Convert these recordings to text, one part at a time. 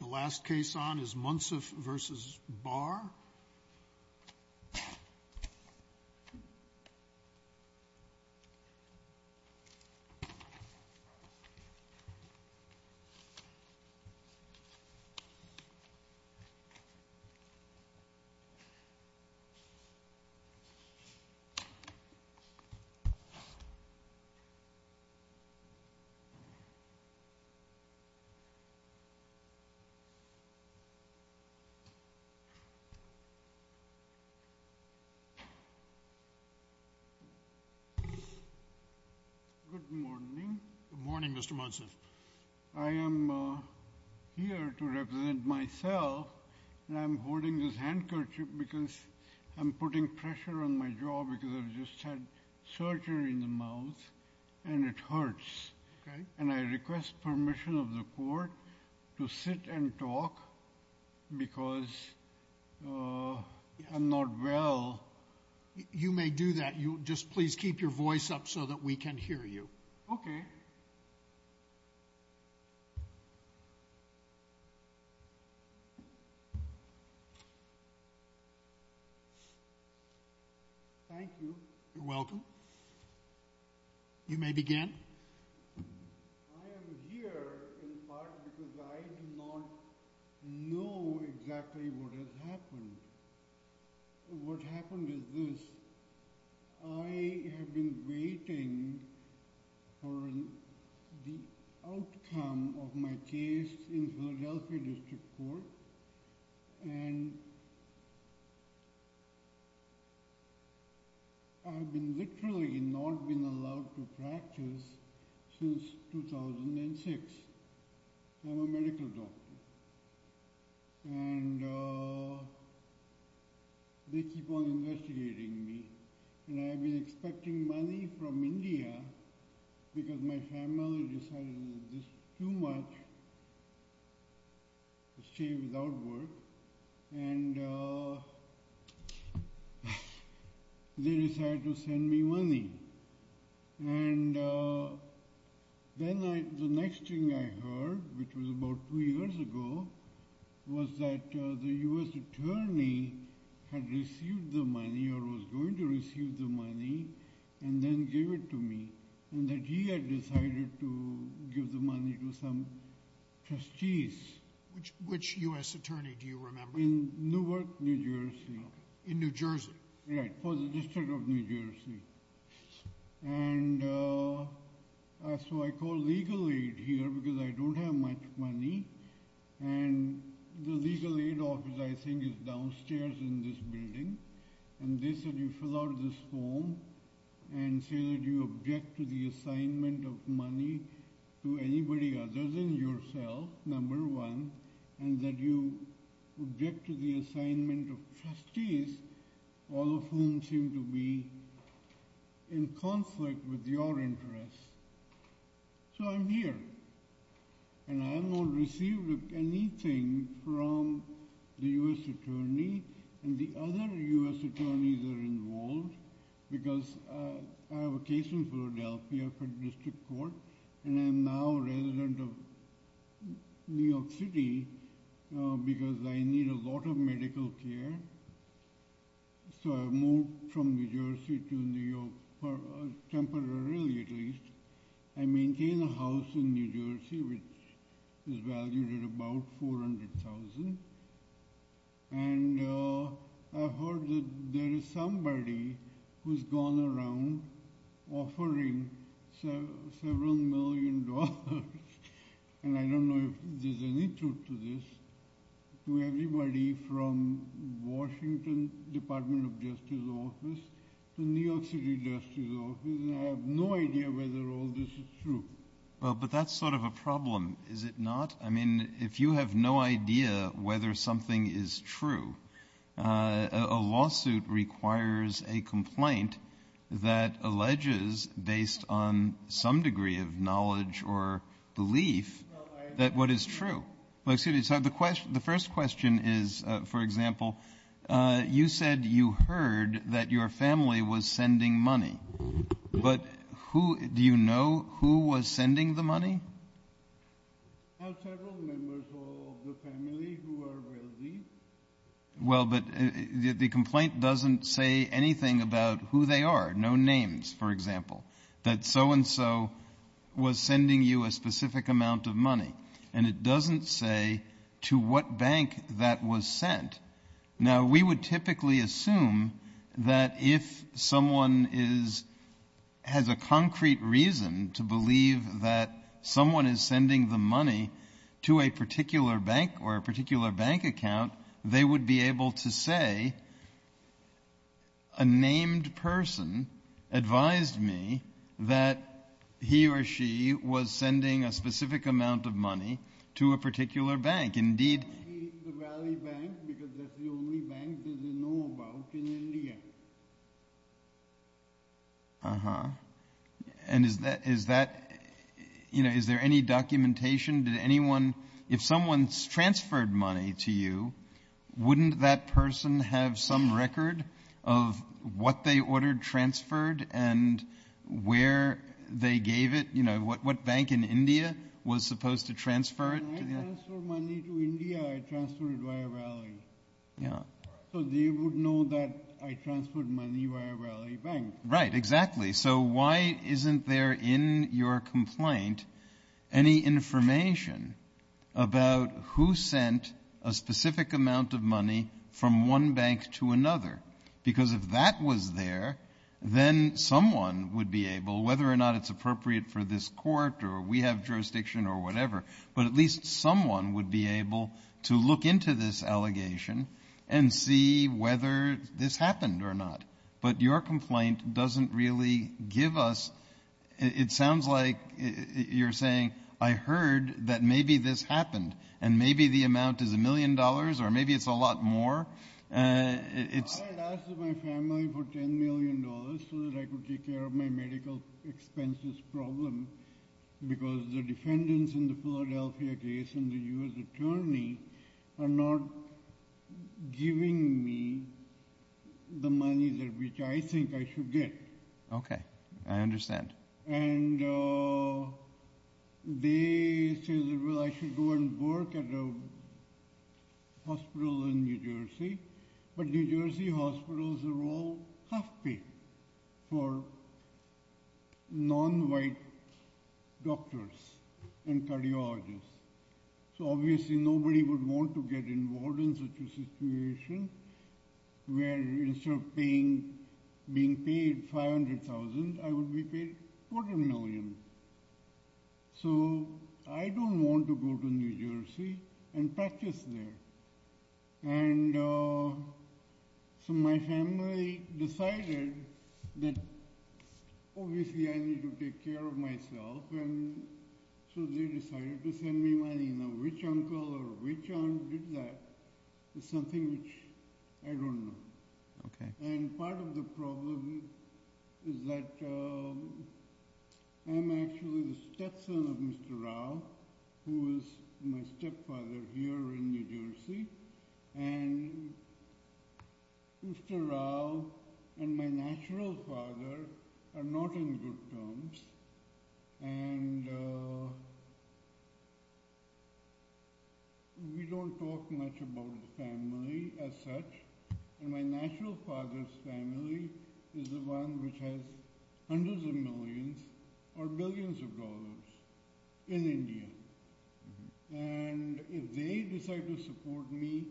The last case on is Munsif v. Barr. Good morning, Mr. Munsif. I am here to represent myself and I'm holding this handkerchief because I'm putting pressure on my jaw because I just had surgery in the mouth and it hurts. And I request permission of the court to sit and talk because I'm not well. You may do that. Just please keep your voice up so that we can hear you. Thank you. You're welcome. You may begin. I am here in part because I do not know exactly what has happened. What happened is this. I have been waiting for the outcome of my case in Philadelphia District Court. And I've been literally not been allowed to practice since 2006. I'm a medical doctor. And they keep on investigating me. And I've been expecting money from India because my family decided this too much. Stay without work. And they decided to send me money. And then the next thing I heard, which was about two years ago, was that the U.S. attorney had received the money or was going to receive the money and then give it to me. And that he had decided to give the money to some trustees. Which U.S. attorney do you remember? In Newark, New Jersey. In New Jersey? Right, for the District of New Jersey. And so I called Legal Aid here because I don't have much money. And the Legal Aid office, I think, is downstairs in this building. And they said you fill out this form and say that you object to the assignment of money to anybody other than yourself, number one. And that you object to the assignment of trustees, all of whom seem to be in conflict with your interests. So I'm here. And I have not received anything from the U.S. attorney. And the other U.S. attorneys are involved because I have a case in Philadelphia for district court. And I'm now a resident of New York City because I need a lot of medical care. So I moved from New Jersey to New York temporarily, at least. I maintain a house in New Jersey which is valued at about $400,000. And I heard that there is somebody who's gone around offering several million dollars. And I don't know if there's any truth to this. To everybody from Washington Department of Justice office to New York City Justice office. I have no idea whether all this is true. Well, but that's sort of a problem, is it not? I mean, if you have no idea whether something is true, a lawsuit requires a complaint that alleges, based on some degree of knowledge or belief, that what is true. The first question is, for example, you said you heard that your family was sending money. But do you know who was sending the money? Several members of the family who are wealthy. Well, but the complaint doesn't say anything about who they are. No names, for example. That so-and-so was sending you a specific amount of money. And it doesn't say to what bank that was sent. Now, we would typically assume that if someone has a concrete reason to believe that someone is sending the money to a particular bank or a particular bank account, they would be able to say, a named person advised me that he or she was sending a specific amount of money to a particular bank. Indeed. The Valley Bank, because that's the only bank that they know about in India. Uh-huh. And is that, you know, is there any documentation? If someone transferred money to you, wouldn't that person have some record of what they ordered transferred and where they gave it? You know, what bank in India was supposed to transfer it? When I transferred money to India, I transferred it via Valley. Yeah. So they would know that I transferred money via Valley Bank. Right, exactly. So why isn't there in your complaint any information about who sent a specific amount of money from one bank to another? Because if that was there, then someone would be able, whether or not it's appropriate for this court or we have jurisdiction or whatever, but at least someone would be able to look into this allegation and see whether this happened or not. But your complaint doesn't really give us – it sounds like you're saying, I heard that maybe this happened and maybe the amount is a million dollars or maybe it's a lot more. I had asked my family for $10 million so that I could take care of my medical expenses problem because the defendants in the Philadelphia case and the U.S. attorney are not giving me the money which I think I should get. Okay, I understand. And they said, well, I should go and work at a hospital in New Jersey. But New Jersey hospitals are all half-paid for non-white doctors and cardiologists. So obviously nobody would want to get involved in such a situation where instead of being paid $500,000, I would be paid $400 million. So I don't want to go to New Jersey and practice there. And so my family decided that obviously I need to take care of myself, and so they decided to send me money. Now which uncle or which aunt did that is something which I don't know. And part of the problem is that I'm actually the stepson of Mr. Rao, who is my stepfather here in New Jersey. And Mr. Rao and my natural father are not in good terms, and we don't talk much about the family as such. And my natural father's family is the one which has hundreds of millions or billions of dollars in India. And if they decide to support me,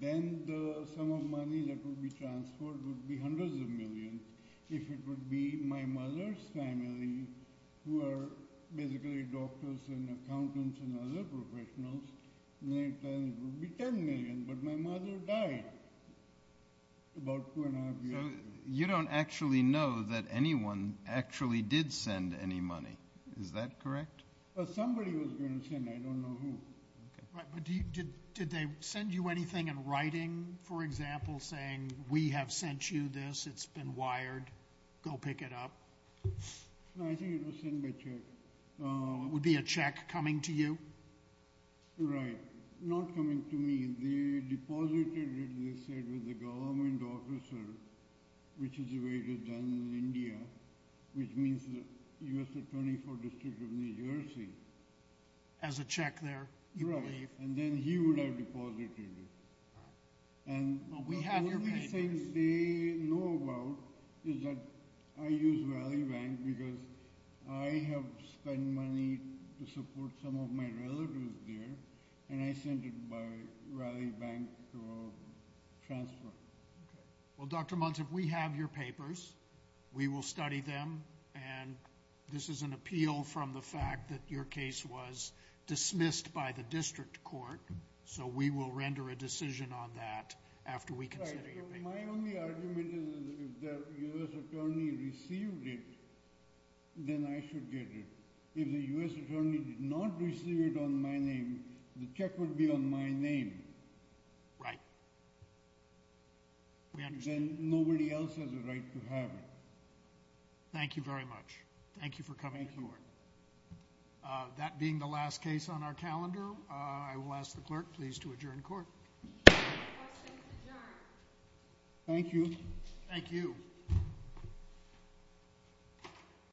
then the sum of money that would be transferred would be hundreds of millions. If it would be my mother's family, who are basically doctors and accountants and other professionals, then it would be $10 million, but my mother died about two and a half years ago. So you don't actually know that anyone actually did send any money, is that correct? Somebody was going to send, I don't know who. But did they send you anything in writing, for example, saying, we have sent you this, it's been wired, go pick it up? No, I think it was sent by check. Would it be a check coming to you? Right, not coming to me. They deposited it, they said, with the government officer, which is the way it is done in India, which means the U.S. Attorney for the District of New Jersey. As a check there, you believe? Right, and then he would have deposited it. Well, we have your papers. One of the things they know about is that I use Raleigh Bank because I have spent money to support some of my relatives there, and I sent it by Raleigh Bank transfer. Well, Dr. Muntz, if we have your papers, we will study them, and this is an appeal from the fact that your case was dismissed by the district court, so we will render a decision on that after we consider your papers. Right, so my only argument is that if the U.S. Attorney received it, then I should get it. If the U.S. Attorney did not receive it on my name, the check would be on my name. Right. Then nobody else has a right to have it. Thank you very much. Thank you for coming forward. Thank you. With that being the last case on our calendar, I will ask the clerk please to adjourn court. Questions adjourned. Thank you. Thank you.